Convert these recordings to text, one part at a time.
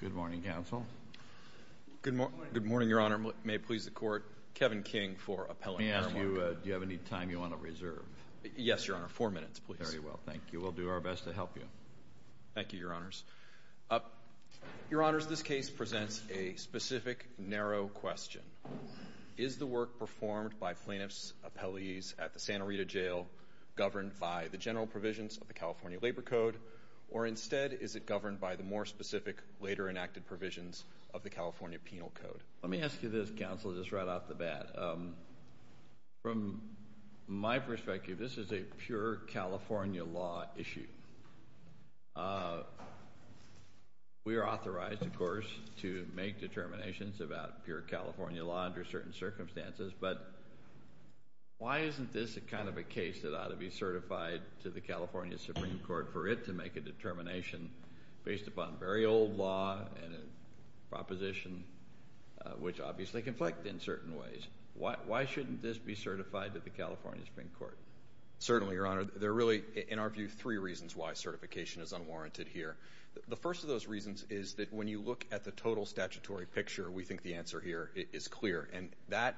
Good morning, Counsel. Good morning, Your Honor. May it please the Court, Kevin King for appellate marijuana. Let me ask you, do you have any time you want to reserve? Yes, Your Honor. Four minutes, please. Very well, thank you. We'll do our best to help you. Thank you, Your Honors. Your Honors, this case presents a specific, narrow question. Is the work performed by plaintiffs' appellees at the Santa Rita Jail governed by the general provisions of the California Labor Code, or instead is it governed by the more specific, later enacted provisions of the California Penal Code? Let me ask you this, Counsel, just right off the bat. From my perspective, this is a pure California law issue. We are authorized, of course, to make determinations about pure California law under certain circumstances, but why isn't this a kind of a case that ought to be certified to the California Supreme Court for it to make a determination based upon very old law and a proposition which obviously conflict in certain ways? Why shouldn't this be certified to the California Supreme Court? Certainly, Your Honor. There are really, in our view, three reasons why certification is unwarranted here. The first of those reasons is that when you look at the total statutory picture, we think the answer here is clear. And that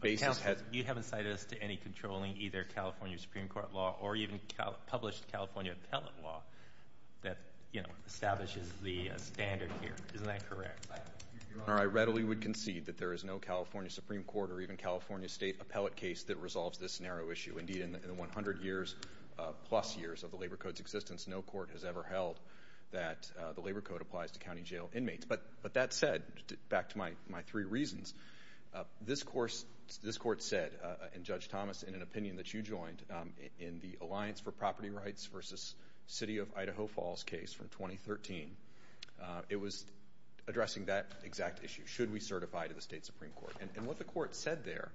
basis has... Counsel, you haven't cited us to any controlling either California Supreme Court law or even published California appellate law that, you know, establishes the standard here. Isn't that correct? Your Honor, I readily would concede that there is no California Supreme Court or even California state appellate case that resolves this narrow issue. Indeed, in the 100 years plus years of the Labor Code's existence, no court has ever held that the Labor Code applies to county jail inmates. But that said, back to my three reasons, this Court said, and Judge Thomas, in an opinion that you joined, in the Alliance for Property Rights v. City of Idaho Falls case from 2013, it was addressing that exact issue, should we certify to the state Supreme Court. And what the Court said there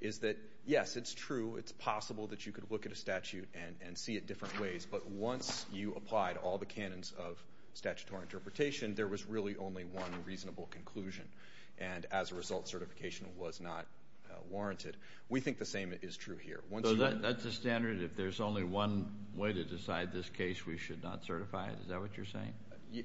is that, yes, it's true, it's possible that you could look at a statute and see it different ways, but once you applied all the canons of statutory interpretation, there was really only one reasonable conclusion. And as a result, certification was not warranted. We think the same is true here. So that's the standard? If there's only one way to decide this case, we should not certify it? Is that what you're saying?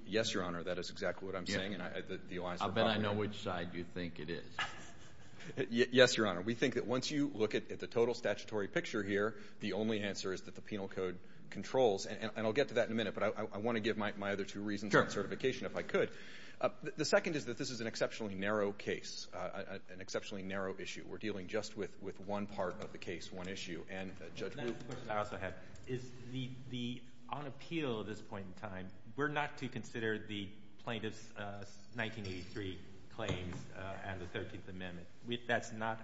Yes, Your Honor, that is exactly what I'm saying. Then I know which side you think it is. Yes, Your Honor. We think that once you look at the total statutory picture here, the only answer is that the penal code controls, and I'll get to that in a minute, but I want to give my other two reasons on certification if I could. The second is that this is an exceptionally narrow case, an exceptionally narrow issue. We're dealing just with one part of the case, one issue. And Judge Rupp? The question I also have is, on appeal at this point in time, we're not to consider the plaintiff's 1983 claims and the 13th Amendment. That's not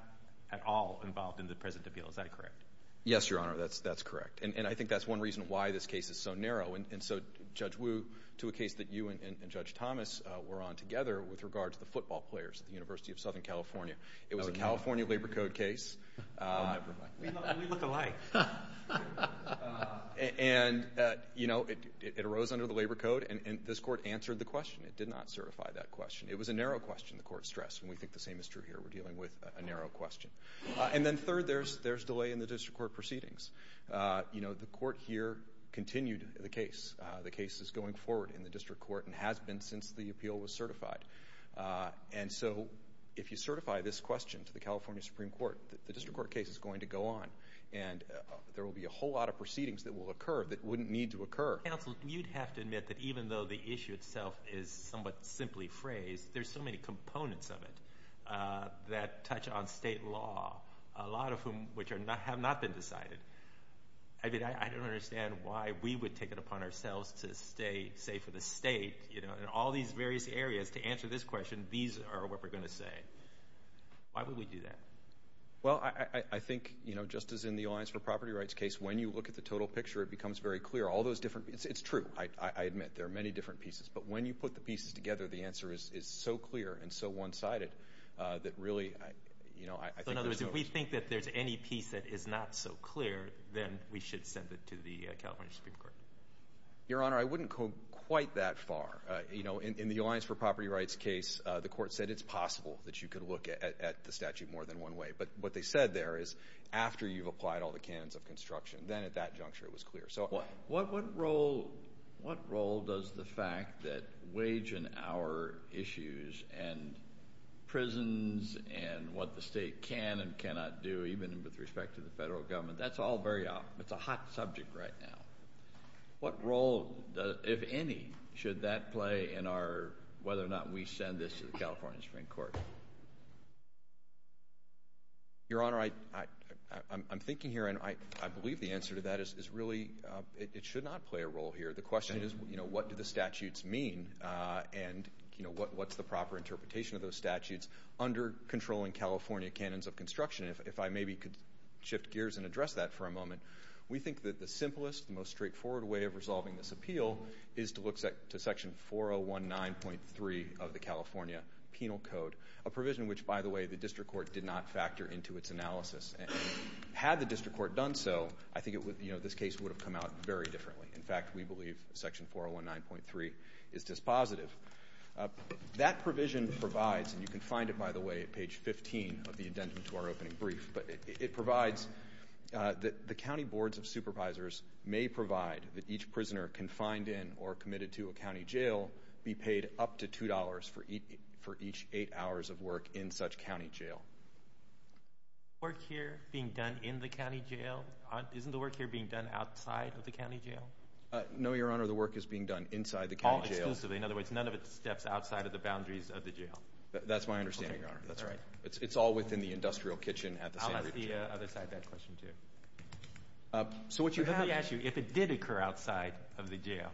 at all involved in the present appeal. Is that correct? Yes, Your Honor, that's correct. And I think that's one reason why this case is so narrow. And so, Judge Wu, to a case that you and Judge Thomas were on together with regard to the football players at the University of Southern California, it was a California labor code case. We look alike. And, you know, it arose under the labor code, and this Court answered the question. It did not certify that question. It was a narrow question, the Court stressed, and we think the same is true here. We're dealing with a narrow question. And then third, there's delay in the district court proceedings. You know, the Court here continued the case. The case is going forward in the district court and has been since the appeal was certified. And so if you certify this question to the California Supreme Court, the district court case is going to go on, and there will be a whole lot of proceedings that will occur that wouldn't need to occur. Counsel, you'd have to admit that even though the issue itself is somewhat simply phrased, there's so many components of it that touch on state law, a lot of whom which have not been decided. I mean, I don't understand why we would take it upon ourselves to say for the state, you know, in all these various areas, to answer this question, these are what we're going to say. Why would we do that? Well, I think, you know, just as in the Alliance for Property Rights case, when you look at the total picture, it becomes very clear. It's true, I admit. There are many different pieces. But when you put the pieces together, the answer is so clear and so one-sided that really, you know, I think there's no— So in other words, if we think that there's any piece that is not so clear, then we should send it to the California Supreme Court. Your Honor, I wouldn't go quite that far. You know, in the Alliance for Property Rights case, the court said it's possible that you could look at the statute more than one way. But what they said there is after you've applied all the canons of construction, then at that juncture it was clear. What role does the fact that wage and hour issues and prisons and what the state can and cannot do, even with respect to the federal government, that's all very—it's a hot subject right now. What role, if any, should that play in our—whether or not we send this to the California Supreme Court? Your Honor, I'm thinking here, and I believe the answer to that is really it should not play a role here. The question is, you know, what do the statutes mean? And, you know, what's the proper interpretation of those statutes under controlling California canons of construction? If I maybe could shift gears and address that for a moment. We think that the simplest, most straightforward way of resolving this appeal is to look to Section 4019.3 of the California Penal Code, a provision which, by the way, the district court did not factor into its analysis. Had the district court done so, I think this case would have come out very differently. In fact, we believe Section 4019.3 is dispositive. That provision provides, and you can find it, by the way, at page 15 of the indentment to our opening brief, but it provides that the county boards of supervisors may provide that each prisoner confined in or committed to a county jail be paid up to $2 for each eight hours of work in such county jail. Work here being done in the county jail? Isn't the work here being done outside of the county jail? No, Your Honor, the work is being done inside the county jail. All exclusively. In other words, none of it steps outside of the boundaries of the jail. That's my understanding, Your Honor. That's right. It's all within the industrial kitchen at the San Diego jail. I'll ask the other side of that question, too. Let me ask you, if it did occur outside of the jail,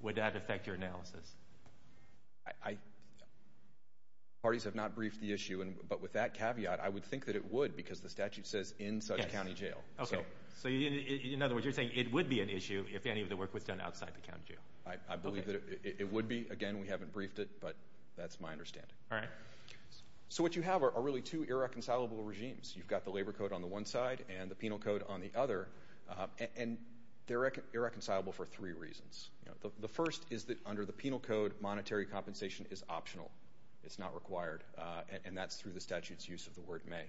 would that affect your analysis? Parties have not briefed the issue, but with that caveat, I would think that it would because the statute says in such county jail. In other words, you're saying it would be an issue if any of the work was done outside the county jail. I believe that it would be. Again, we haven't briefed it, but that's my understanding. So what you have are really two irreconcilable regimes. You've got the labor code on the one side and the penal code on the other, and they're irreconcilable for three reasons. The first is that under the penal code, monetary compensation is optional. It's not required, and that's through the statute's use of the word may.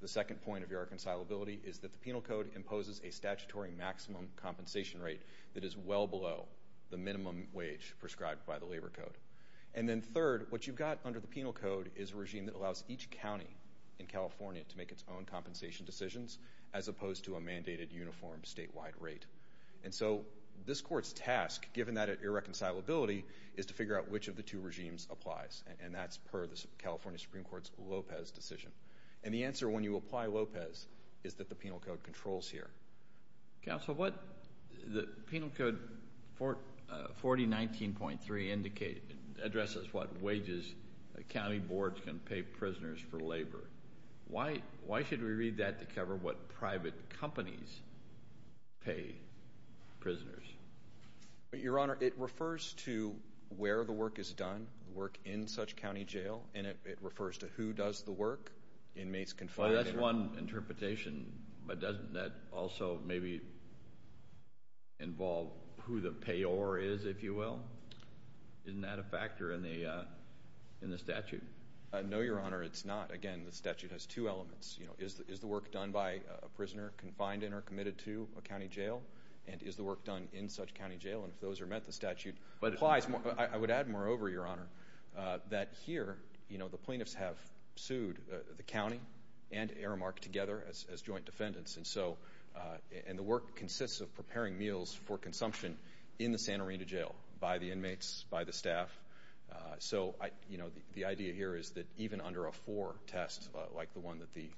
The second point of irreconcilability is that the penal code imposes a statutory maximum compensation rate that is well below the minimum wage prescribed by the labor code. And then third, what you've got under the penal code is a regime that allows each county in California to make its own compensation decisions as opposed to a mandated uniform statewide rate. And so this court's task, given that irreconcilability, is to figure out which of the two regimes applies, and that's per the California Supreme Court's Lopez decision. And the answer, when you apply Lopez, is that the penal code controls here. Counsel, the penal code 4019.3 addresses what wages county boards can pay prisoners for labor. Why should we read that to cover what private companies pay prisoners? Your Honor, it refers to where the work is done, work in such county jail, and it refers to who does the work, inmates confined there. Well, that's one interpretation, but doesn't that also maybe involve who the payor is, if you will? Isn't that a factor in the statute? No, Your Honor, it's not. Again, the statute has two elements. Is the work done by a prisoner confined in or committed to a county jail? And is the work done in such county jail? And if those are met, the statute applies. I would add, moreover, Your Honor, that here, you know, the plaintiffs have sued the county and Aramark together as joint defendants. And so, and the work consists of preparing meals for consumption in the Santa Rita jail, by the inmates, by the staff. So, you know, the idea here is that even under a four test, like the one that the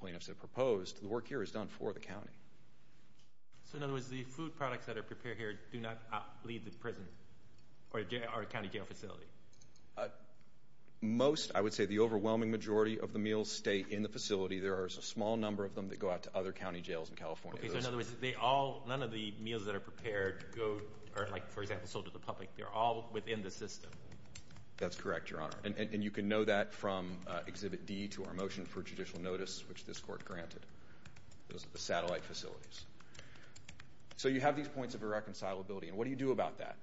plaintiffs have proposed, the work here is done for the county. So, in other words, the food products that are prepared here do not leave the prison or county jail facility? Most, I would say the overwhelming majority of the meals stay in the facility. There is a small number of them that go out to other county jails in California. Okay, so in other words, they all, none of the meals that are prepared go, or like, for example, sold to the public. They're all within the system. That's correct, Your Honor. And you can know that from Exhibit D to our motion for judicial notice, which this court granted. Those are the satellite facilities. So, you have these points of irreconcilability, and what do you do about that?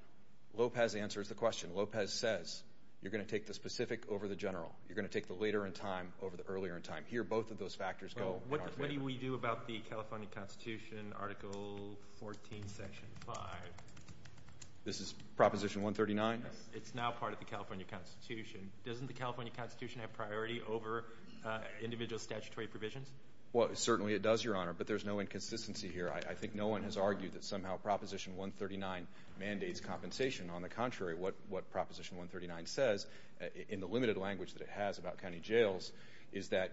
Lopez answers the question. Lopez says, you're going to take the specific over the general. You're going to take the later in time over the earlier in time. Here, both of those factors go. What do we do about the California Constitution, Article 14, Section 5? This is Proposition 139? It's now part of the California Constitution. Doesn't the California Constitution have priority over individual statutory provisions? Well, certainly it does, Your Honor, but there's no inconsistency here. I think no one has argued that somehow Proposition 139 mandates compensation. On the contrary, what Proposition 139 says, in the limited language that it has about county jails, is that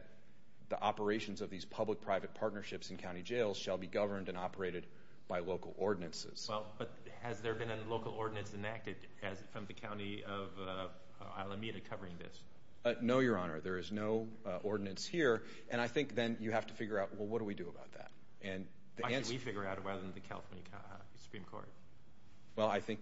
the operations of these public-private partnerships in county jails shall be governed and operated by local ordinances. Well, but has there been a local ordinance enacted from the county of Alameda covering this? No, Your Honor. There is no ordinance here. And I think then you have to figure out, well, what do we do about that? Why should we figure it out rather than the California Supreme Court? Well, I think,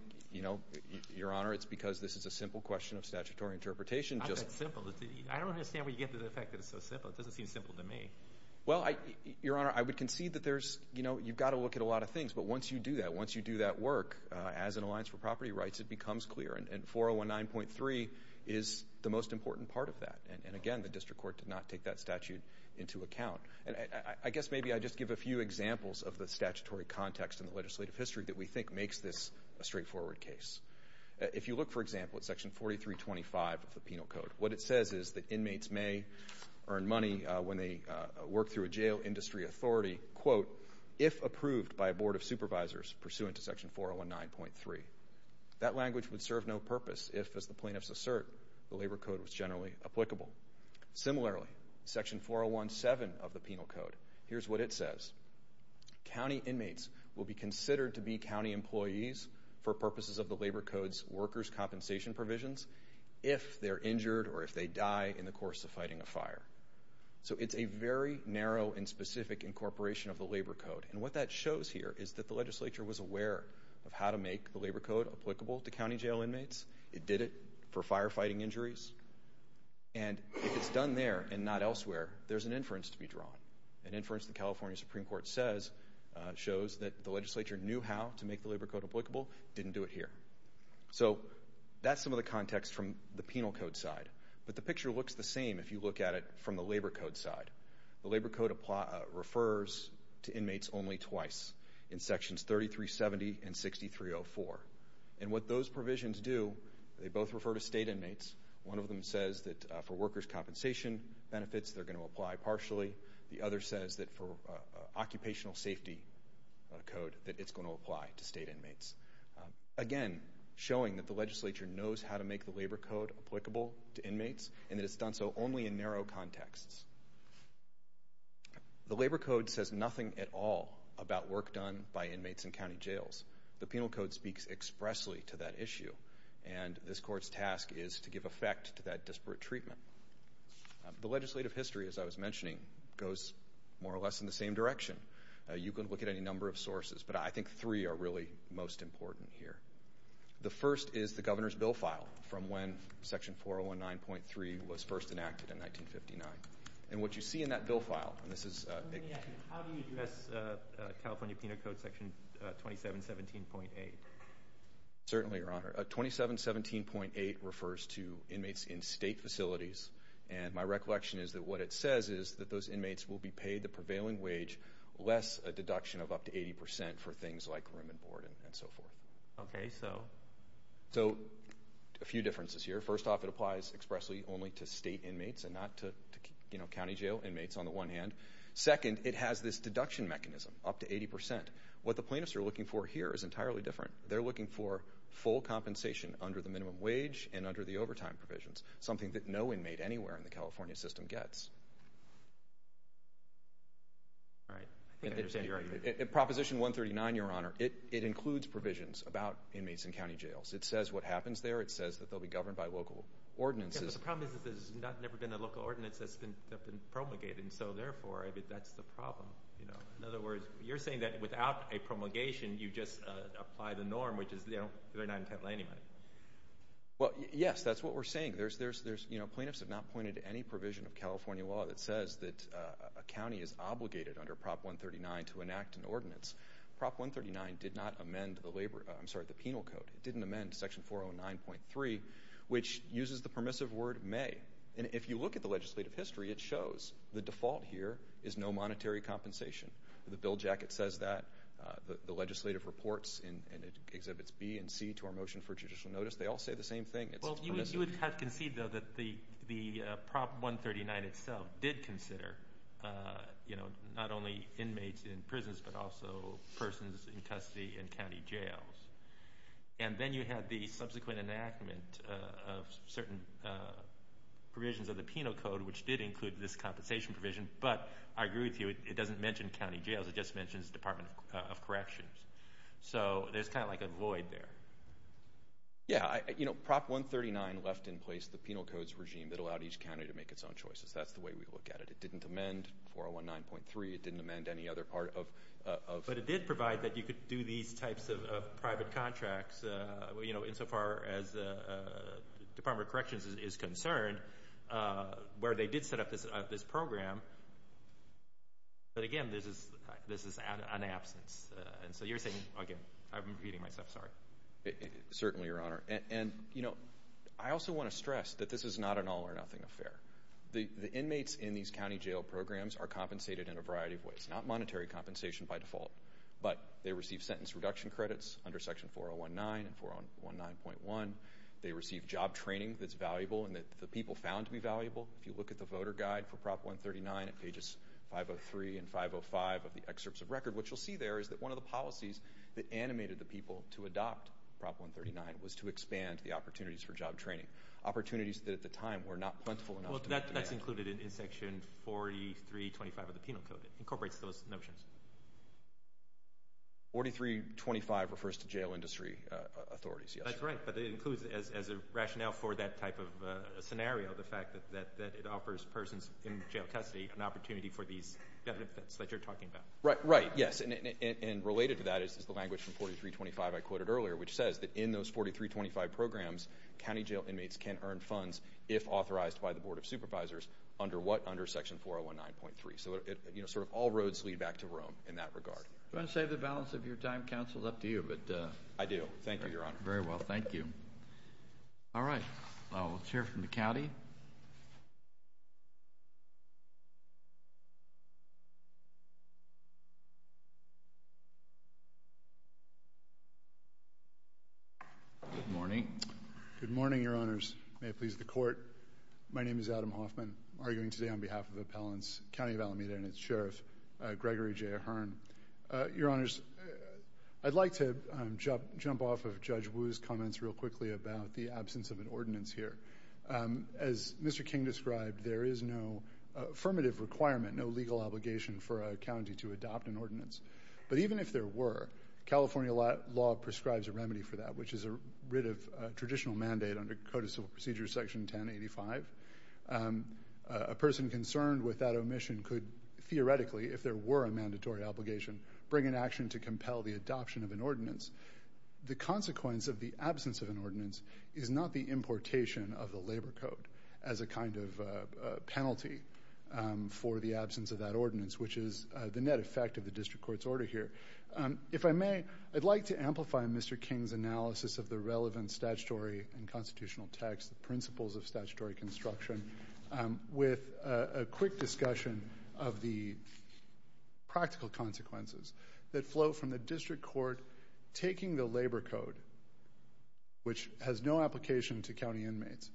Your Honor, it's because this is a simple question of statutory interpretation. It's not that simple. I don't understand where you get to the fact that it's so simple. It doesn't seem simple to me. Well, Your Honor, I would concede that you've got to look at a lot of things. But once you do that, once you do that work, as an alliance for property rights, it becomes clear. And 4019.3 is the most important part of that. And, again, the district court did not take that statute into account. I guess maybe I'd just give a few examples of the statutory context in the legislative history that we think makes this a straightforward case. If you look, for example, at Section 4325 of the Penal Code, what it says is that inmates may earn money when they work through a jail industry authority, quote, if approved by a board of supervisors pursuant to Section 4019.3. That language would serve no purpose if, as the plaintiffs assert, the Labor Code was generally applicable. Similarly, Section 4017 of the Penal Code, here's what it says. County inmates will be considered to be county employees for purposes of the Labor Code's workers' compensation provisions if they're injured or if they die in the course of fighting a fire. So it's a very narrow and specific incorporation of the Labor Code. And what that shows here is that the legislature was aware of how to make the Labor Code applicable to county jail inmates. It did it for firefighting injuries. And if it's done there and not elsewhere, there's an inference to be drawn. An inference the California Supreme Court says shows that the legislature knew how to make the Labor Code applicable, didn't do it here. So that's some of the context from the Penal Code side. But the picture looks the same if you look at it from the Labor Code side. The Labor Code refers to inmates only twice, in Sections 3370 and 6304. And what those provisions do, they both refer to state inmates. One of them says that for workers' compensation benefits, they're going to apply partially. The other says that for occupational safety code, that it's going to apply to state inmates. Again, showing that the legislature knows how to make the Labor Code applicable to inmates. And that it's done so only in narrow contexts. The Labor Code says nothing at all about work done by inmates in county jails. The Penal Code speaks expressly to that issue. And this Court's task is to give effect to that disparate treatment. The legislative history, as I was mentioning, goes more or less in the same direction. You can look at any number of sources, but I think three are really most important here. The first is the Governor's Bill File from when Section 419.3 was first enacted in 1959. And what you see in that Bill File, and this is... How do you address California Penal Code Section 2717.8? Certainly, Your Honor. 2717.8 refers to inmates in state facilities. And my recollection is that what it says is that those inmates will be paid the prevailing wage, less a deduction of up to 80% for things like room and board and so forth. Okay, so? So, a few differences here. First off, it applies expressly only to state inmates and not to, you know, county jail inmates on the one hand. Second, it has this deduction mechanism, up to 80%. What the plaintiffs are looking for here is entirely different. They're looking for full compensation under the minimum wage and under the overtime provisions. Something that no inmate anywhere in the California system gets. All right. I think I understand your argument. Proposition 139, Your Honor, it includes provisions about inmates in county jails. It says what happens there. It says that they'll be governed by local ordinances. Yeah, but the problem is that there's never been a local ordinance that's been promulgated. And so, therefore, I think that's the problem, you know. In other words, you're saying that without a promulgation, you just apply the norm, which is, you know, they're not entitled to any money. Well, yes, that's what we're saying. There's, you know, plaintiffs have not pointed to any provision of California law that says that a county is obligated under Prop 139 to enact an ordinance. Prop 139 did not amend the labor, I'm sorry, the penal code. It didn't amend Section 409.3, which uses the permissive word may. And if you look at the legislative history, it shows the default here is no monetary compensation. The bill jacket says that. The legislative reports, and it exhibits B and C to our motion for judicial notice. They all say the same thing. Well, you would have conceived, though, that the Prop 139 itself did consider, you know, not only inmates in prisons, but also persons in custody in county jails. And then you had the subsequent enactment of certain provisions of the penal code, which did include this compensation provision. But I agree with you, it doesn't mention county jails. It just mentions Department of Corrections. So there's kind of like a void there. Yeah, you know, Prop 139 left in place the penal codes regime that allowed each county to make its own choices. That's the way we look at it. It didn't amend 4019.3. It didn't amend any other part of. But it did provide that you could do these types of private contracts, you know, insofar as Department of Corrections is concerned, where they did set up this program. But again, this is an absence. And so you're saying, again, I'm repeating myself, sorry. Certainly, Your Honor. And, you know, I also want to stress that this is not an all-or-nothing affair. The inmates in these county jail programs are compensated in a variety of ways, not monetary compensation by default. But they receive sentence reduction credits under Section 4019 and 4019.1. If you look at the voter guide for Prop 139 at pages 503 and 505 of the excerpts of record, what you'll see there is that one of the policies that animated the people to adopt Prop 139 was to expand the opportunities for job training, opportunities that at the time were not plentiful enough. Well, that's included in Section 4325 of the penal code. It incorporates those notions. 4325 refers to jail industry authorities, yes. That's right. But it includes, as a rationale for that type of scenario, the fact that it offers persons in jail custody an opportunity for these benefits that you're talking about. Right, yes. And related to that is the language from 4325 I quoted earlier, which says that in those 4325 programs, county jail inmates can earn funds, if authorized by the Board of Supervisors, under what? Under Section 4019.3. So, you know, sort of all roads lead back to Rome in that regard. Do you want to save the balance of your time, Counsel? It's up to you. I do. Thank you, Your Honor. Very well. Thank you. All right. We'll hear from the county. Good morning. Good morning, Your Honors. May it please the Court. My name is Adam Hoffman, arguing today on behalf of Appellants County of Alameda and its Sheriff, Gregory J. Hearn. Your Honors, I'd like to jump off of Judge Wu's comments real quickly about the absence of an ordinance here. As Mr. King described, there is no affirmative requirement, no legal obligation for a county to adopt an ordinance. But even if there were, California law prescribes a remedy for that, which is a writ of traditional mandate under Code of Civil Procedure Section 1085. A person concerned with that omission could theoretically, if there were a mandatory obligation, bring an action to compel the adoption of an ordinance. The consequence of the absence of an ordinance is not the importation of the labor code as a kind of penalty for the absence of that ordinance, which is the net effect of the district court's order here. If I may, I'd like to amplify Mr. King's analysis of the relevant statutory and constitutional text, principles of statutory construction, with a quick discussion of the practical consequences that flow from the district court taking the labor code, which has no application to county inmates,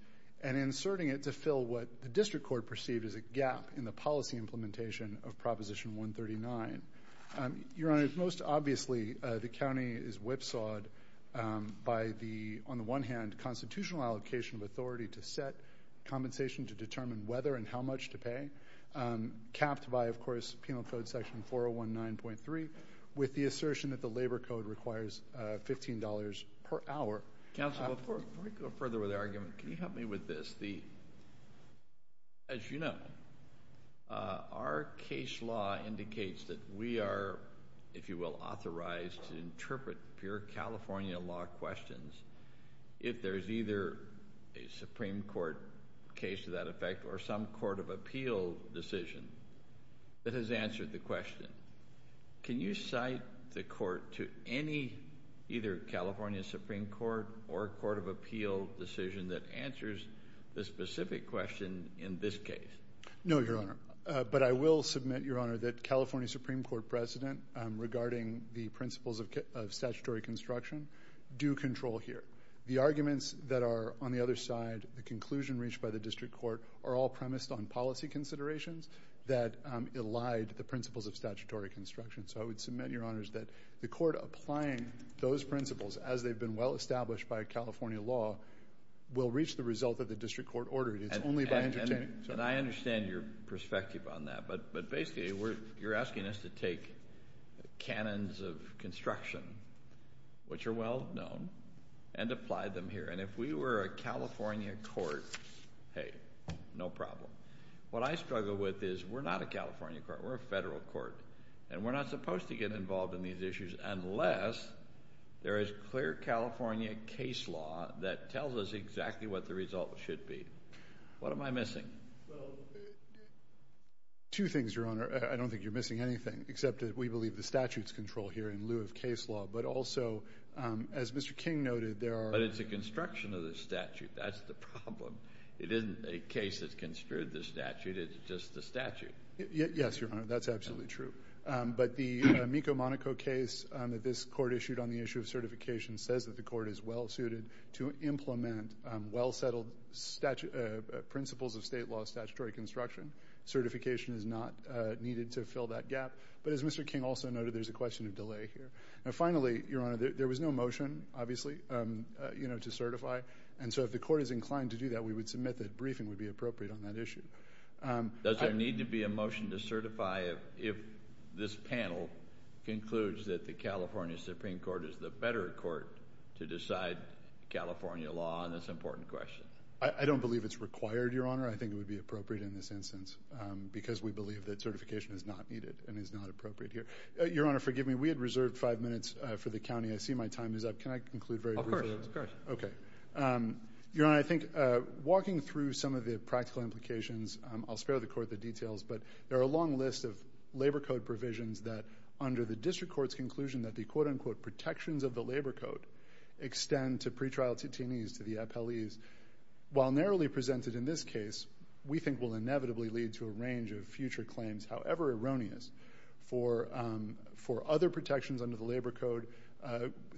and inserting it to fill what the district court perceived as a gap in the policy implementation of Proposition 139. Your Honors, most obviously, the county is whipsawed by the, on the one hand, constitutional allocation of authority to set compensation to determine whether and how much to pay, capped by, of course, Penal Code Section 419.3, with the assertion that the labor code requires $15 per hour. Counsel, before we go further with the argument, can you help me with this? As you know, our case law indicates that we are, if you will, authorized to interpret pure California law questions. If there's either a Supreme Court case to that effect, or some court of appeal decision that has answered the question, can you cite the court to any, either California Supreme Court or a court of appeal decision that answers the specific question in this case? No, Your Honor. But I will submit, Your Honor, that California Supreme Court precedent regarding the principles of statutory construction do control here. The arguments that are on the other side, the conclusion reached by the district court, are all premised on policy considerations that elide the principles of statutory construction. So I would submit, Your Honors, that the court applying those principles, as they've been well established by California law, will reach the result that the district court ordered. It's only by entertaining. And I understand your perspective on that, but basically you're asking us to take canons of construction which are well known and apply them here. And if we were a California court, hey, no problem. What I struggle with is we're not a California court. We're a federal court. And we're not supposed to get involved in these issues unless there is clear California case law that tells us exactly what the result should be. What am I missing? Well, two things, Your Honor. I don't think you're missing anything, except that we believe the statute's control here in lieu of case law. But also, as Mr. King noted, there are. But it's a construction of the statute. That's the problem. It isn't a case that's construed the statute. It's just the statute. Yes, Your Honor. That's absolutely true. But the Mico-Monaco case that this court issued on the issue of certification says that the court is well suited to implement well-settled principles of state law statutory construction. Certification is not needed to fill that gap. But as Mr. King also noted, there's a question of delay here. And finally, Your Honor, there was no motion, obviously, you know, to certify. And so if the court is inclined to do that, we would submit that briefing would be appropriate on that issue. Does there need to be a motion to certify if this panel concludes that the California Supreme Court is the better court to decide California law on this important question? I don't believe it's required, Your Honor. I think it would be appropriate in this instance because we believe that certification is not needed and is not appropriate here. Your Honor, forgive me. We had reserved five minutes for the county. I see my time is up. Can I conclude very briefly? Of course. Of course. Okay. Your Honor, I think walking through some of the practical implications, I'll spare the court the details, but there are a long list of labor code provisions that under the district court's conclusion that the, quote, unquote, protections of the labor code extend to pretrial TTEs, to the FLEs. While narrowly presented in this case, we think will inevitably lead to a range of future claims, however erroneous, for other protections under the labor code,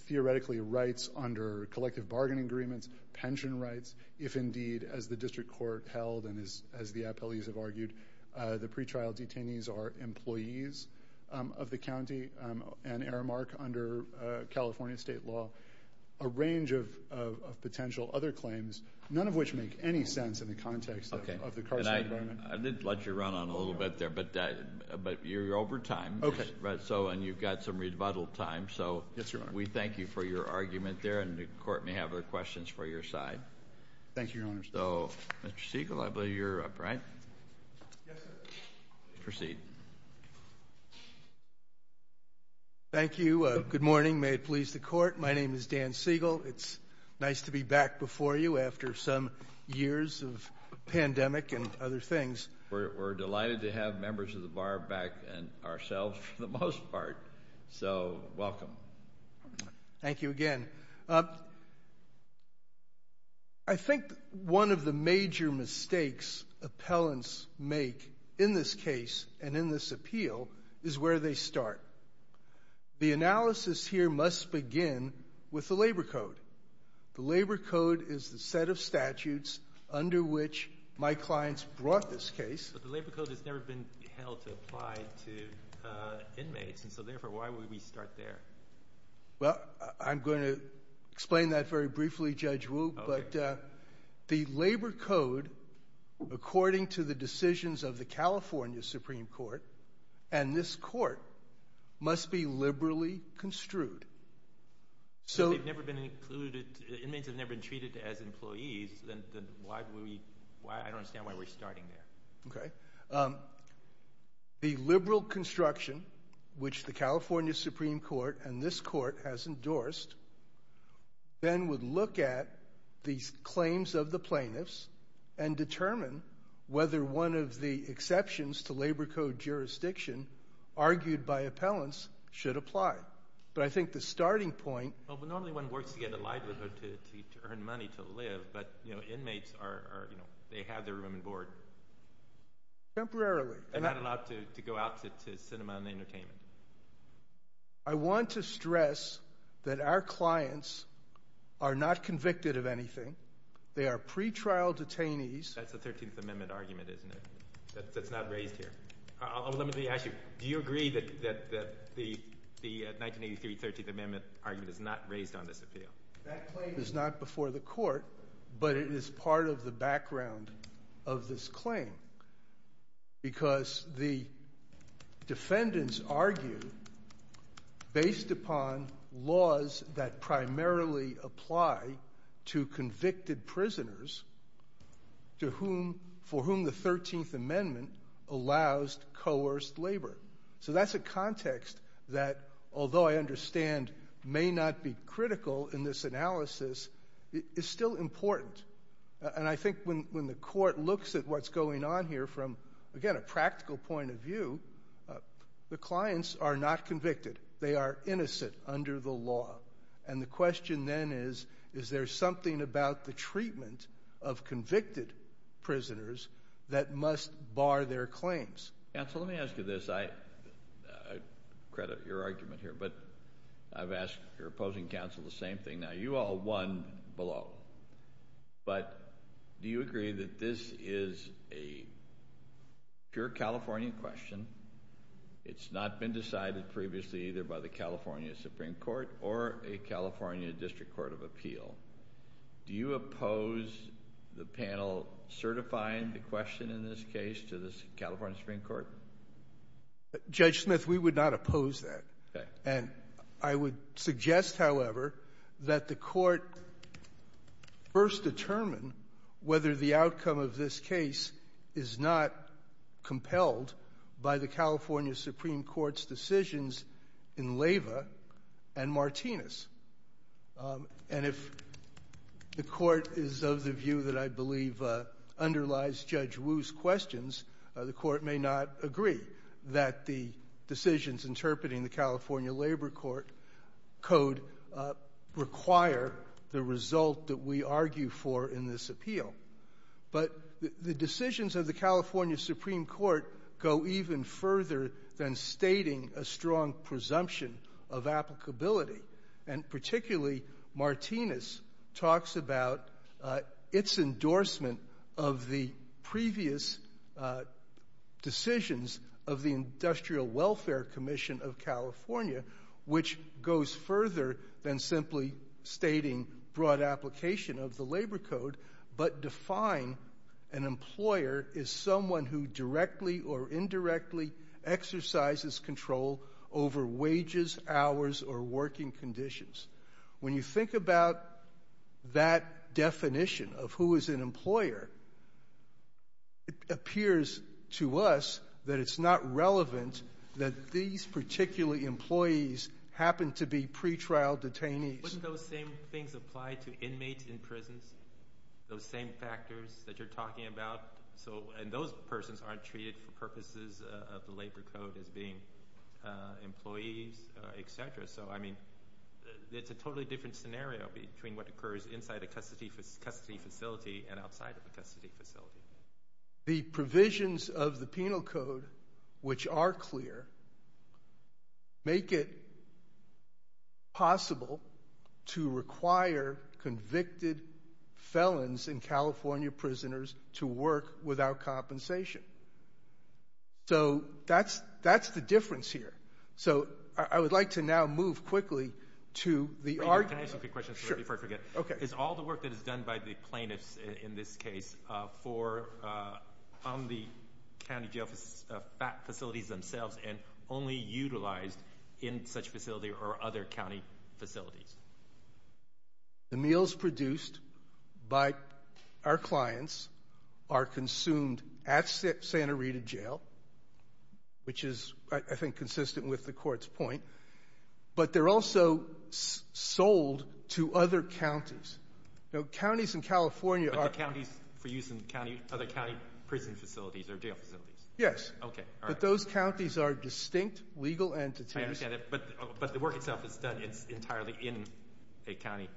theoretically rights under collective bargaining agreements, pension rights, if indeed, as the district court held and as the FLEs have argued, the pretrial detainees are employees of the county and Aramark under California state law, a range of potential other claims, none of which make any sense in the context of the current environment. I did let you run on a little bit there, but you're over time. Okay. And you've got some rebuttal time. So we thank you for your argument there. And the court may have other questions for your side. Thank you, Your Honor. So, Mr. Siegel, I believe you're up, right? Yes, sir. Proceed. Thank you. Good morning. May it please the court. My name is Dan Siegel. It's nice to be back before you after some years of pandemic and other things. We're delighted to have members of the bar back and ourselves for the most part. So, welcome. Thank you again. I think one of the major mistakes appellants make in this case and in this appeal is where they start. The analysis here must begin with the labor code. The labor code is the set of statutes under which my clients brought this case. But the labor code has never been held to apply to inmates. And so, therefore, why would we start there? Well, I'm going to explain that very briefly, Judge Wu. But the labor code, according to the decisions of the California Supreme Court and this court, must be liberally construed. So, they've never been included. Inmates have never been treated as employees. Then why would we? I don't understand why we're starting there. Okay. The liberal construction, which the California Supreme Court and this court has endorsed, then would look at these claims of the plaintiffs and determine whether one of the exceptions to labor code jurisdiction argued by appellants should apply. But I think the starting point Well, normally one works to get a livelihood to earn money to live, but inmates, they have their room and board. Temporarily. They're not allowed to go out to cinema and entertainment. I want to stress that our clients are not convicted of anything. They are pretrial detainees. That's a 13th Amendment argument, isn't it, that's not raised here? Let me ask you, do you agree that the 1983 13th Amendment argument is not raised on this appeal? That claim is not before the court, but it is part of the background of this claim because the defendants argue, based upon laws that primarily apply to convicted prisoners for whom the 13th Amendment allows coerced labor. So that's a context that, although I understand may not be critical in this analysis, is still important. And I think when the court looks at what's going on here from, again, a practical point of view, the clients are not convicted. They are innocent under the law. And the question then is, is there something about the treatment of convicted prisoners that must bar their claims? Counsel, let me ask you this. I credit your argument here, but I've asked your opposing counsel the same thing. Now, you all won below. But do you agree that this is a pure California question? It's not been decided previously either by the California Supreme Court or a California District Court of Appeal. Do you oppose the panel certifying the question in this case to the California Supreme Court? Judge Smith, we would not oppose that. Okay. And I would suggest, however, that the court first determine whether the outcome of this case is not compelled by the California Supreme Court's decisions in Leyva and Martinez. And if the court is of the view that I believe underlies Judge Wu's questions, the court may not agree that the decisions interpreting the California Labor Code require the result that we argue for in this appeal. But the decisions of the California Supreme Court go even further than stating a strong presumption of applicability. And particularly, Martinez talks about its endorsement of the previous decisions of the Industrial Welfare Commission of California, which goes further than simply stating broad application of the Labor Code, but define an employer as someone who directly or indirectly exercises control over wages, hours, or working conditions. When you think about that definition of who is an employer, it appears to us that it's not relevant that these particular employees happen to be pretrial detainees. Wouldn't those same things apply to inmates in prisons? Those same factors that you're talking about? And those persons aren't treated for purposes of the Labor Code as being employees, etc. So, I mean, it's a totally different scenario between what occurs inside a custody facility and outside of a custody facility. The provisions of the Penal Code, which are clear, make it possible to require convicted felons and California prisoners to work without compensation. So that's the difference here. So I would like to now move quickly to the argument. Can I ask a quick question before I forget? Sure. Okay. Is all the work that is done by the plaintiffs in this case on the county jail facilities themselves and only utilized in such facility or other county facilities? The meals produced by our clients are consumed at Santa Rita Jail, which is, I think, consistent with the Court's point, but they're also sold to other counties. Counties in California are... But the counties for use in other county prison facilities or jail facilities? Yes. Okay. All right. But those counties are distinct legal entities. I understand that. But the work itself is done entirely in a county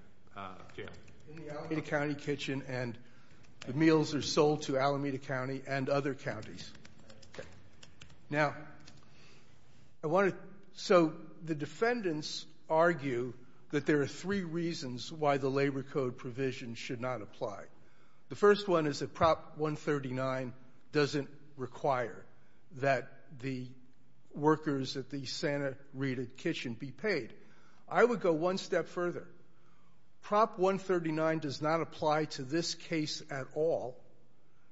jail? In the Alameda County Kitchen, and the meals are sold to Alameda County and other counties. Okay. Now, I want to... So the defendants argue that there are three reasons why the Labor Code provisions should not apply. The first one is that Prop 139 doesn't require that the workers at the Santa Rita Kitchen be paid. I would go one step further. Prop 139 does not apply to this case at all,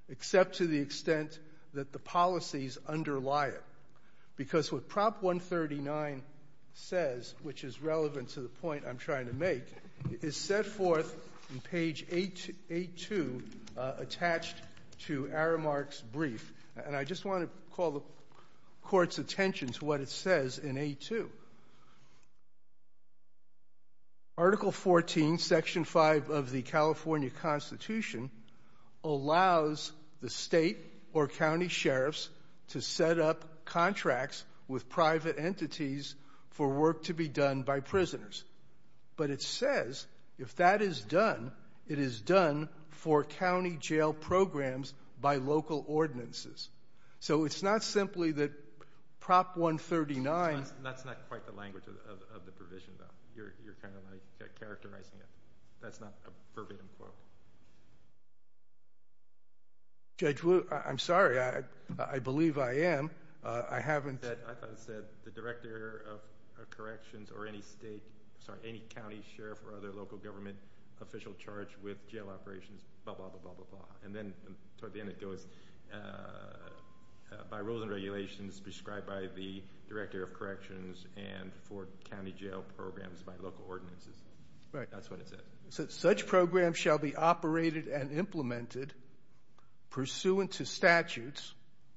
except to the extent that the policies underlie it. Because what Prop 139 says, which is relevant to the point I'm trying to make, is set forth in page 8-2 attached to Aramark's brief. And I just want to call the Court's attention to what it says in 8-2. Article 14, Section 5 of the California Constitution, allows the state or county sheriffs to set up contracts with private entities for work to be done by prisoners. But it says if that is done, it is done for county jail programs by local ordinances. So it's not simply that Prop 139... That's not quite the language of the provision, though. You're kind of, like, characterizing it. That's not a verbatim quote. Judge, I'm sorry. I believe I am. I haven't... I thought it said the director of corrections or any state, sorry, any county sheriff or other local government official charged with jail operations, blah, blah, blah, blah, blah, blah. And then toward the end it goes, by rules and regulations prescribed by the director of corrections and for county jail programs by local ordinances. That's what it says. Such programs shall be operated and implemented pursuant to statutes,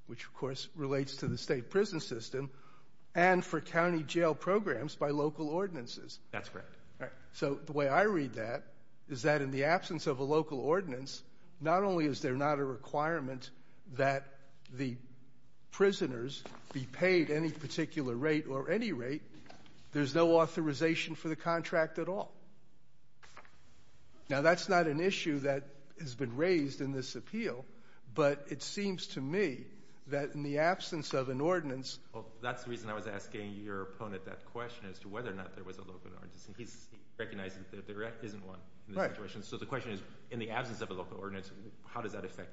which, of course, relates to the state prison system, and for county jail programs by local ordinances. That's correct. All right. So the way I read that is that in the absence of a local ordinance, not only is there not a requirement that the prisoners be paid any particular rate or any rate, there's no authorization for the contract at all. Now, that's not an issue that has been raised in this appeal, but it seems to me that in the absence of an ordinance... Well, that's the reason I was asking your opponent that question as to whether or not there was a local ordinance, and he's recognizing that there isn't one in this situation. Right. So the question is, in the absence of a local ordinance, how does that affect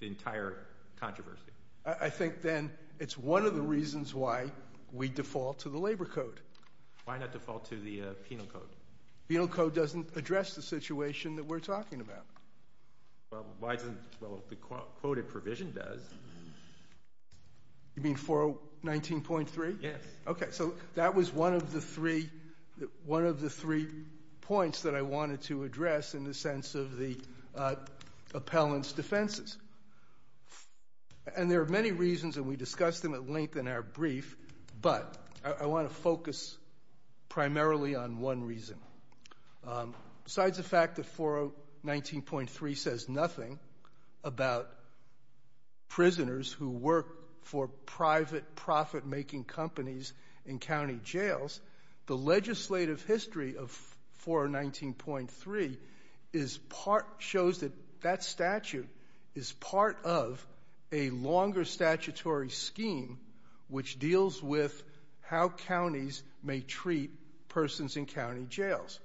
the entire controversy? I think then it's one of the reasons why we default to the labor code. Why not default to the penal code? Penal code doesn't address the situation that we're talking about. Well, why doesn't it? Well, the quoted provision does. You mean 419.3? Yes. Okay. So that was one of the three points that I wanted to address in the sense of the appellant's defenses. And there are many reasons, and we discussed them at length in our brief, but I want to focus primarily on one reason. Besides the fact that 419.3 says nothing about prisoners who work for private profit-making companies in county jails, the legislative history of 419.3 shows that that statute is part of a longer statutory scheme which deals with how counties may treat persons in county jails.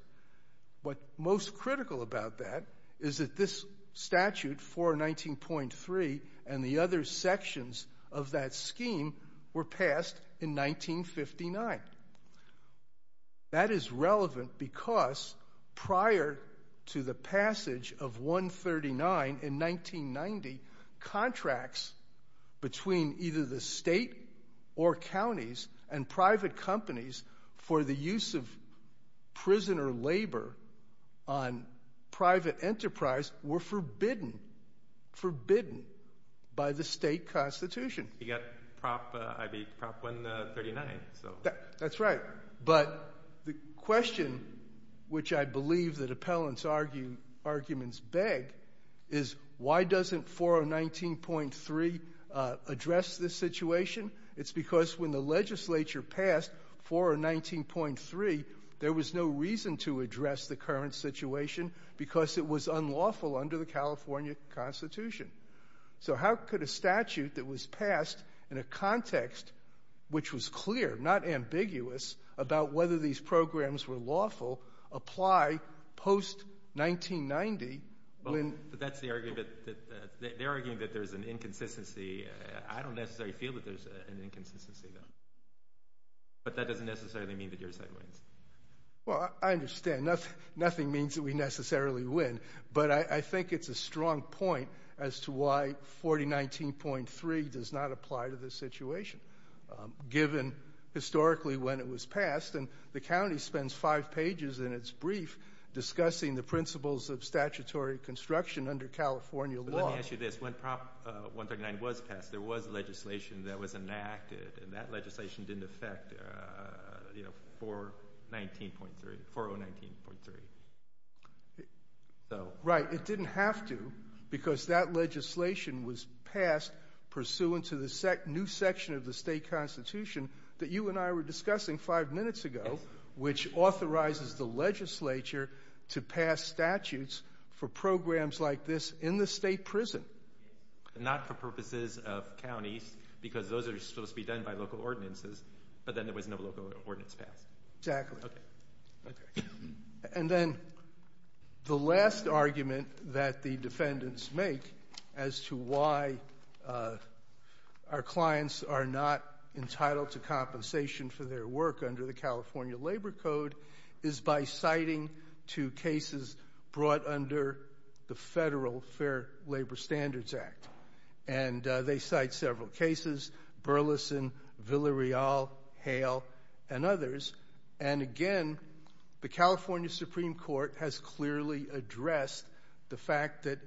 What's most critical about that is that this statute, 419.3, and the other sections of that scheme were passed in 1959. That is relevant because prior to the passage of 139 in 1990, contracts between either the state or counties and private companies for the use of prisoner labor on private enterprise were forbidden by the state constitution. You got Prop 139. That's right. But the question which I believe that appellants' arguments beg is why doesn't 419.3 address this situation? It's because when the legislature passed 419.3, there was no reason to address the current situation because it was unlawful under the California Constitution. So how could a statute that was passed in a context which was clear, not ambiguous, about whether these programs were lawful apply post-1990? They're arguing that there's an inconsistency. I don't necessarily feel that there's an inconsistency, but that doesn't necessarily mean that your side wins. Well, I understand. Nothing means that we necessarily win, but I think it's a strong point as to why 419.3 does not apply to this situation given historically when it was passed. And the county spends five pages in its brief discussing the principles of statutory construction under California law. Let me ask you this. When Prop 139 was passed, there was legislation that was enacted, and that legislation didn't affect 419.3. Right. It didn't have to because that legislation was passed pursuant to the new section of the state constitution that you and I were discussing five minutes ago, which authorizes the legislature to pass statutes for programs like this in the state prison. Not for purposes of counties, because those are supposed to be done by local ordinances, but then there was no local ordinance passed. Exactly. Okay. And then the last argument that the defendants make as to why our clients are not entitled to compensation for their work under the California Labor Code is by citing two cases brought under the Federal Fair Labor Standards Act. And they cite several cases, Burleson, Villareal, Hale, and others. And, again, the California Supreme Court has clearly addressed the fact that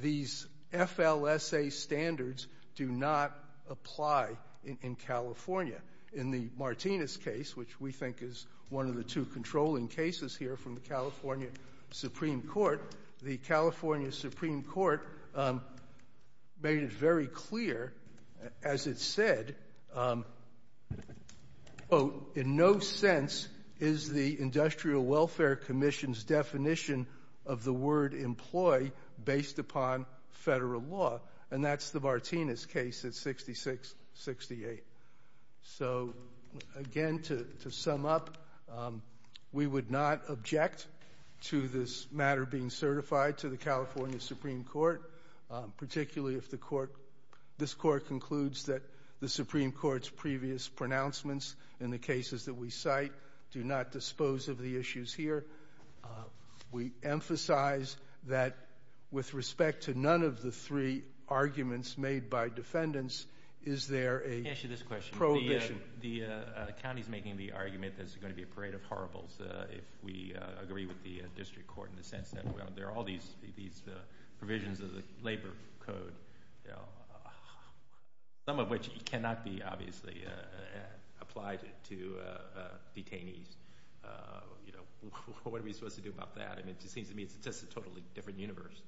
these FLSA standards do not apply in California. In the Martinez case, which we think is one of the two controlling cases here from the California Supreme Court, the California Supreme Court made it very clear, as it said, quote, in no sense is the Industrial Welfare Commission's definition of the word employ based upon federal law. And that's the Martinez case at 66-68. So, again, to sum up, we would not object to this matter being certified to the California Supreme Court, particularly if this court concludes that the Supreme Court's previous pronouncements in the cases that we cite do not dispose of the issues here. We emphasize that with respect to none of the three arguments made by defendants, is there a prohibition? Let me ask you this question. The county is making the argument that it's going to be a parade of horribles if we agree with the district court in the sense that there are all these provisions of the labor code, some of which cannot be obviously applied to detainees. What are we supposed to do about that? I mean, it just seems to me it's just a totally different universe.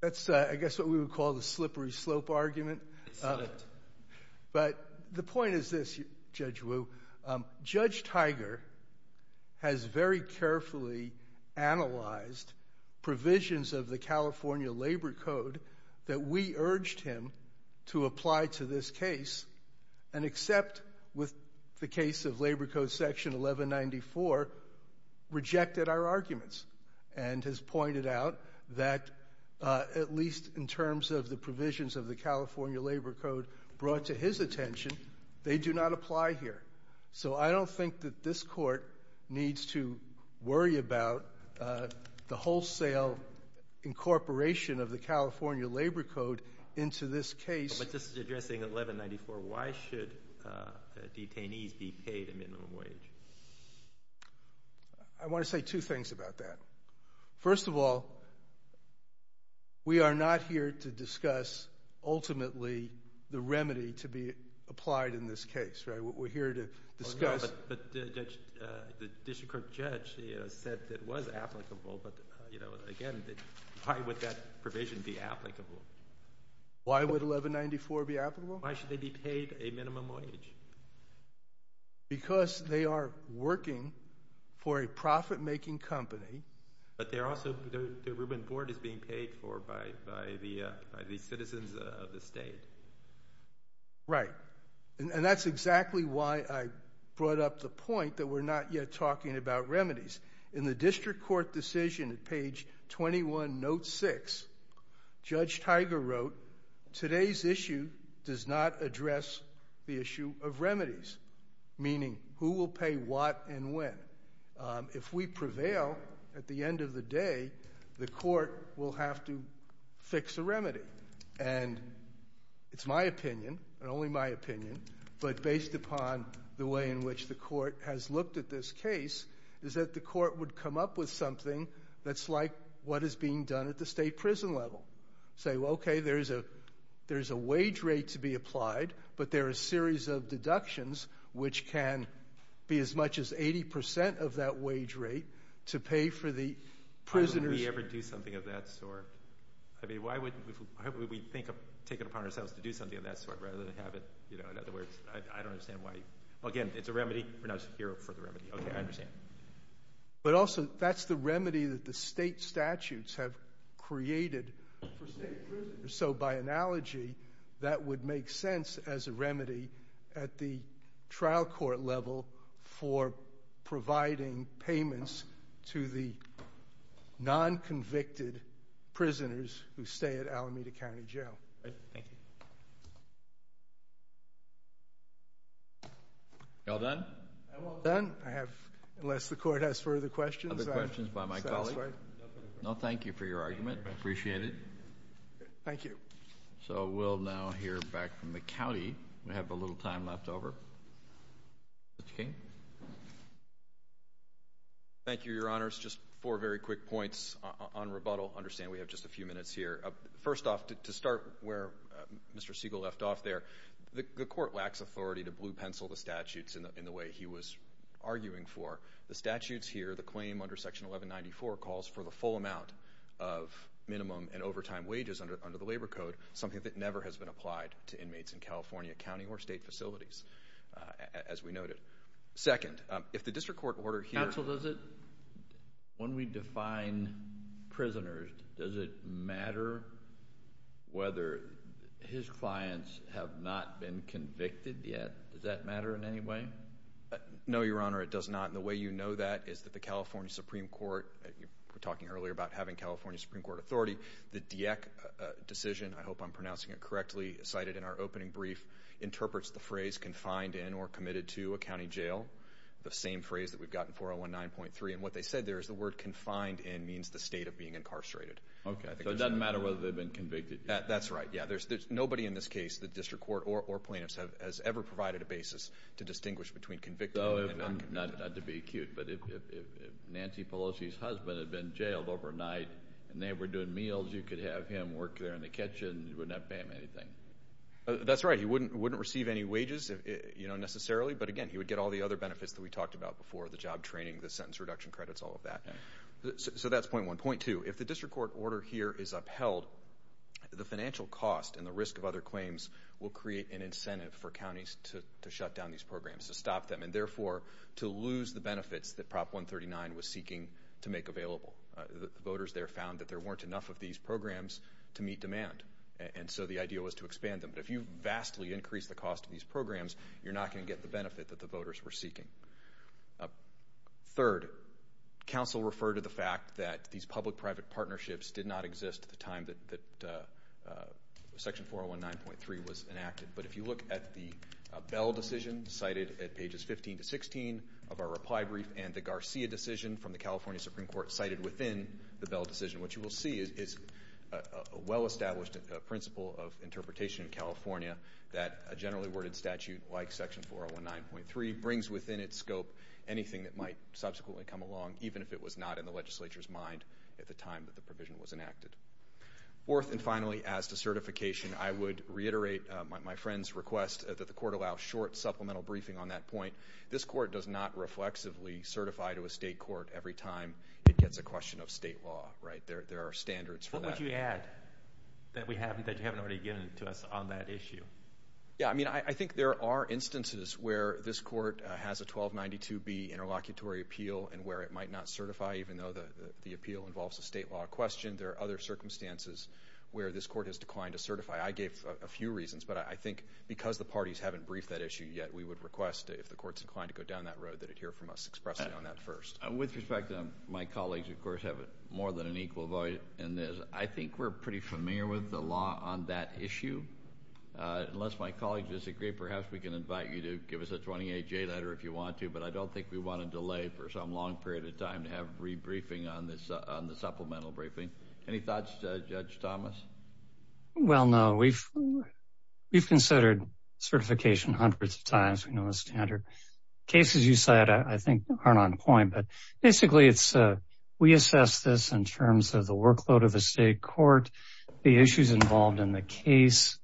That's, I guess, what we would call the slippery slope argument. But the point is this, Judge Wu. Judge Tiger has very carefully analyzed provisions of the California Labor Code that we urged him to apply to this case and except with the case of Labor Code Section 1194, rejected our arguments and has pointed out that, at least in terms of the provisions of the California Labor Code brought to his attention, they do not apply here. So I don't think that this court needs to worry about the wholesale incorporation of the California Labor Code into this case. But this is addressing 1194. Why should detainees be paid a minimum wage? I want to say two things about that. First of all, we are not here to discuss, ultimately, the remedy to be applied in this case. We're here to discuss. But the district court judge said it was applicable. But, again, why would that provision be applicable? Why would 1194 be applicable? Why should they be paid a minimum wage? Because they are working for a profit-making company. But they're also the Rubin Board is being paid for by the citizens of the state. Right. And that's exactly why I brought up the point that we're not yet talking about remedies. In the district court decision at page 21, note 6, Judge Tiger wrote, Today's issue does not address the issue of remedies, meaning who will pay what and when. If we prevail at the end of the day, the court will have to fix a remedy. And it's my opinion, and only my opinion, but based upon the way in which the court has looked at this case, is that the court would come up with something that's like what is being done at the state prison level. Say, well, okay, there's a wage rate to be applied, but there are a series of deductions which can be as much as 80 percent of that wage rate to pay for the prisoners. Why would we ever do something of that sort? I mean, why would we take it upon ourselves to do something of that sort rather than have it? In other words, I don't understand why. Again, it's a remedy. We're not here for the remedy. Okay, I understand. But also, that's the remedy that the state statutes have created for state prisoners. So by analogy, that would make sense as a remedy at the trial court level for providing payments to the non-convicted prisoners who stay at Alameda County Jail. Thank you. You all done? I'm all done. I have, unless the court has further questions, I'm satisfied. Other questions by my colleague? No, thank you for your argument. I appreciate it. Thank you. So we'll now hear back from the county. We have a little time left over. Mr. King? Thank you, Your Honors. Just four very quick points on rebuttal. Understand we have just a few minutes here. First off, to start where Mr. Siegel left off there, the court lacks authority to blue pencil the statutes in the way he was arguing for. The statutes here, the claim under Section 1194, calls for the full amount of minimum and overtime wages under the Labor Code, something that never has been applied to inmates in California county or state facilities, as we noted. Second, if the district court order here ---- Counsel, does it, when we define prisoners, does it matter whether his clients have not been convicted yet? Does that matter in any way? No, Your Honor, it does not. And the way you know that is that the California Supreme Court, we were talking earlier about having California Supreme Court authority, the DIEC decision, I hope I'm pronouncing it correctly, cited in our opening brief, interprets the phrase confined in or committed to a county jail, the same phrase that we've got in 4.019.3. And what they said there is the word confined in means the state of being incarcerated. Okay. So it doesn't matter whether they've been convicted yet. That's right, yeah. Nobody in this case, the district court or plaintiffs, has ever provided a basis to distinguish between convicted and not convicted. Not to be acute, but if Nancy Pelosi's husband had been jailed overnight and they were doing meals, you could have him work there in the kitchen, you wouldn't have to pay him anything. That's right. He wouldn't receive any wages, you know, necessarily. But, again, he would get all the other benefits that we talked about before, the job training, the sentence reduction credits, all of that. So that's point one. Point two, if the district court order here is upheld, the financial cost and the risk of other claims will create an incentive for counties to shut down these programs, to stop them, and therefore to lose the benefits that Prop 139 was seeking to make available. The voters there found that there weren't enough of these programs to meet demand, and so the idea was to expand them. But if you vastly increase the cost of these programs, you're not going to get the benefit that the voters were seeking. Third, counsel referred to the fact that these public-private partnerships did not exist at the time that Section 419.3 was enacted. But if you look at the Bell decision, cited at pages 15 to 16 of our reply brief, and the Garcia decision from the California Supreme Court, cited within the Bell decision, what you will see is a well-established principle of interpretation in California that a generally worded statute like Section 419.3 brings within its scope anything that might subsequently come along, even if it was not in the legislature's mind at the time that the provision was enacted. Fourth and finally, as to certification, I would reiterate my friend's request that the court allow short supplemental briefing on that point. This court does not reflexively certify to a state court every time it gets a question of state law. There are standards for that. What would you add that you haven't already given to us on that issue? I think there are instances where this court has a 1292B interlocutory appeal and where it might not certify, even though the appeal involves a state law question. There are other circumstances where this court has declined to certify. I gave a few reasons, but I think because the parties haven't briefed that issue yet, we would request if the court's inclined to go down that road, that it hear from us expressly on that first. With respect, my colleagues, of course, have more than an equal voice in this. I think we're pretty familiar with the law on that issue. Unless my colleagues disagree, perhaps we can invite you to give us a 28-J letter if you want to, but I don't think we want to delay for some long period of time to have rebriefing on the supplemental briefing. Any thoughts, Judge Thomas? Well, no. We've considered certification hundreds of times. We know the standard cases you cite, I think, aren't on point. Basically, we assess this in terms of the workload of the state court, the issues involved in the case,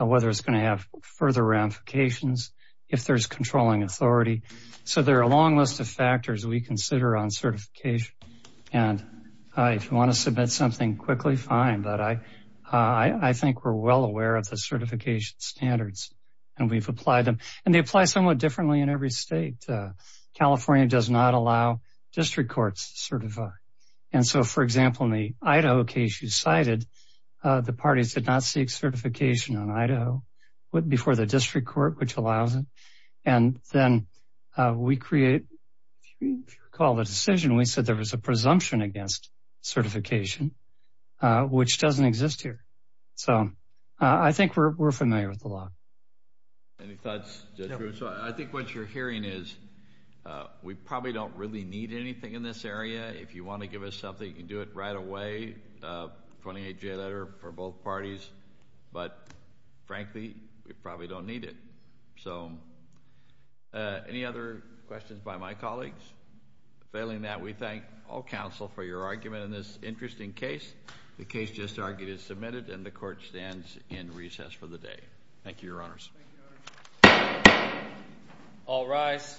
whether it's going to have further ramifications, if there's controlling authority. So there are a long list of factors we consider on certification. If you want to submit something quickly, fine, but I think we're well aware of the certification standards, and we've applied them. And they apply somewhat differently in every state. California does not allow district courts to certify. And so, for example, in the Idaho case you cited, the parties did not seek certification on Idaho before the district court, which allows it. And then we create, if you recall the decision, we said there was a presumption against certification, which doesn't exist here. So I think we're familiar with the law. Any thoughts, Judge Drew? So I think what you're hearing is we probably don't really need anything in this area. If you want to give us something, you can do it right away, 28-J letter for both parties. But, frankly, we probably don't need it. So any other questions by my colleagues? Failing that, we thank all counsel for your argument in this interesting case. The case just argued is submitted, and the court stands in recess for the day. Thank you, Your Honors. All rise.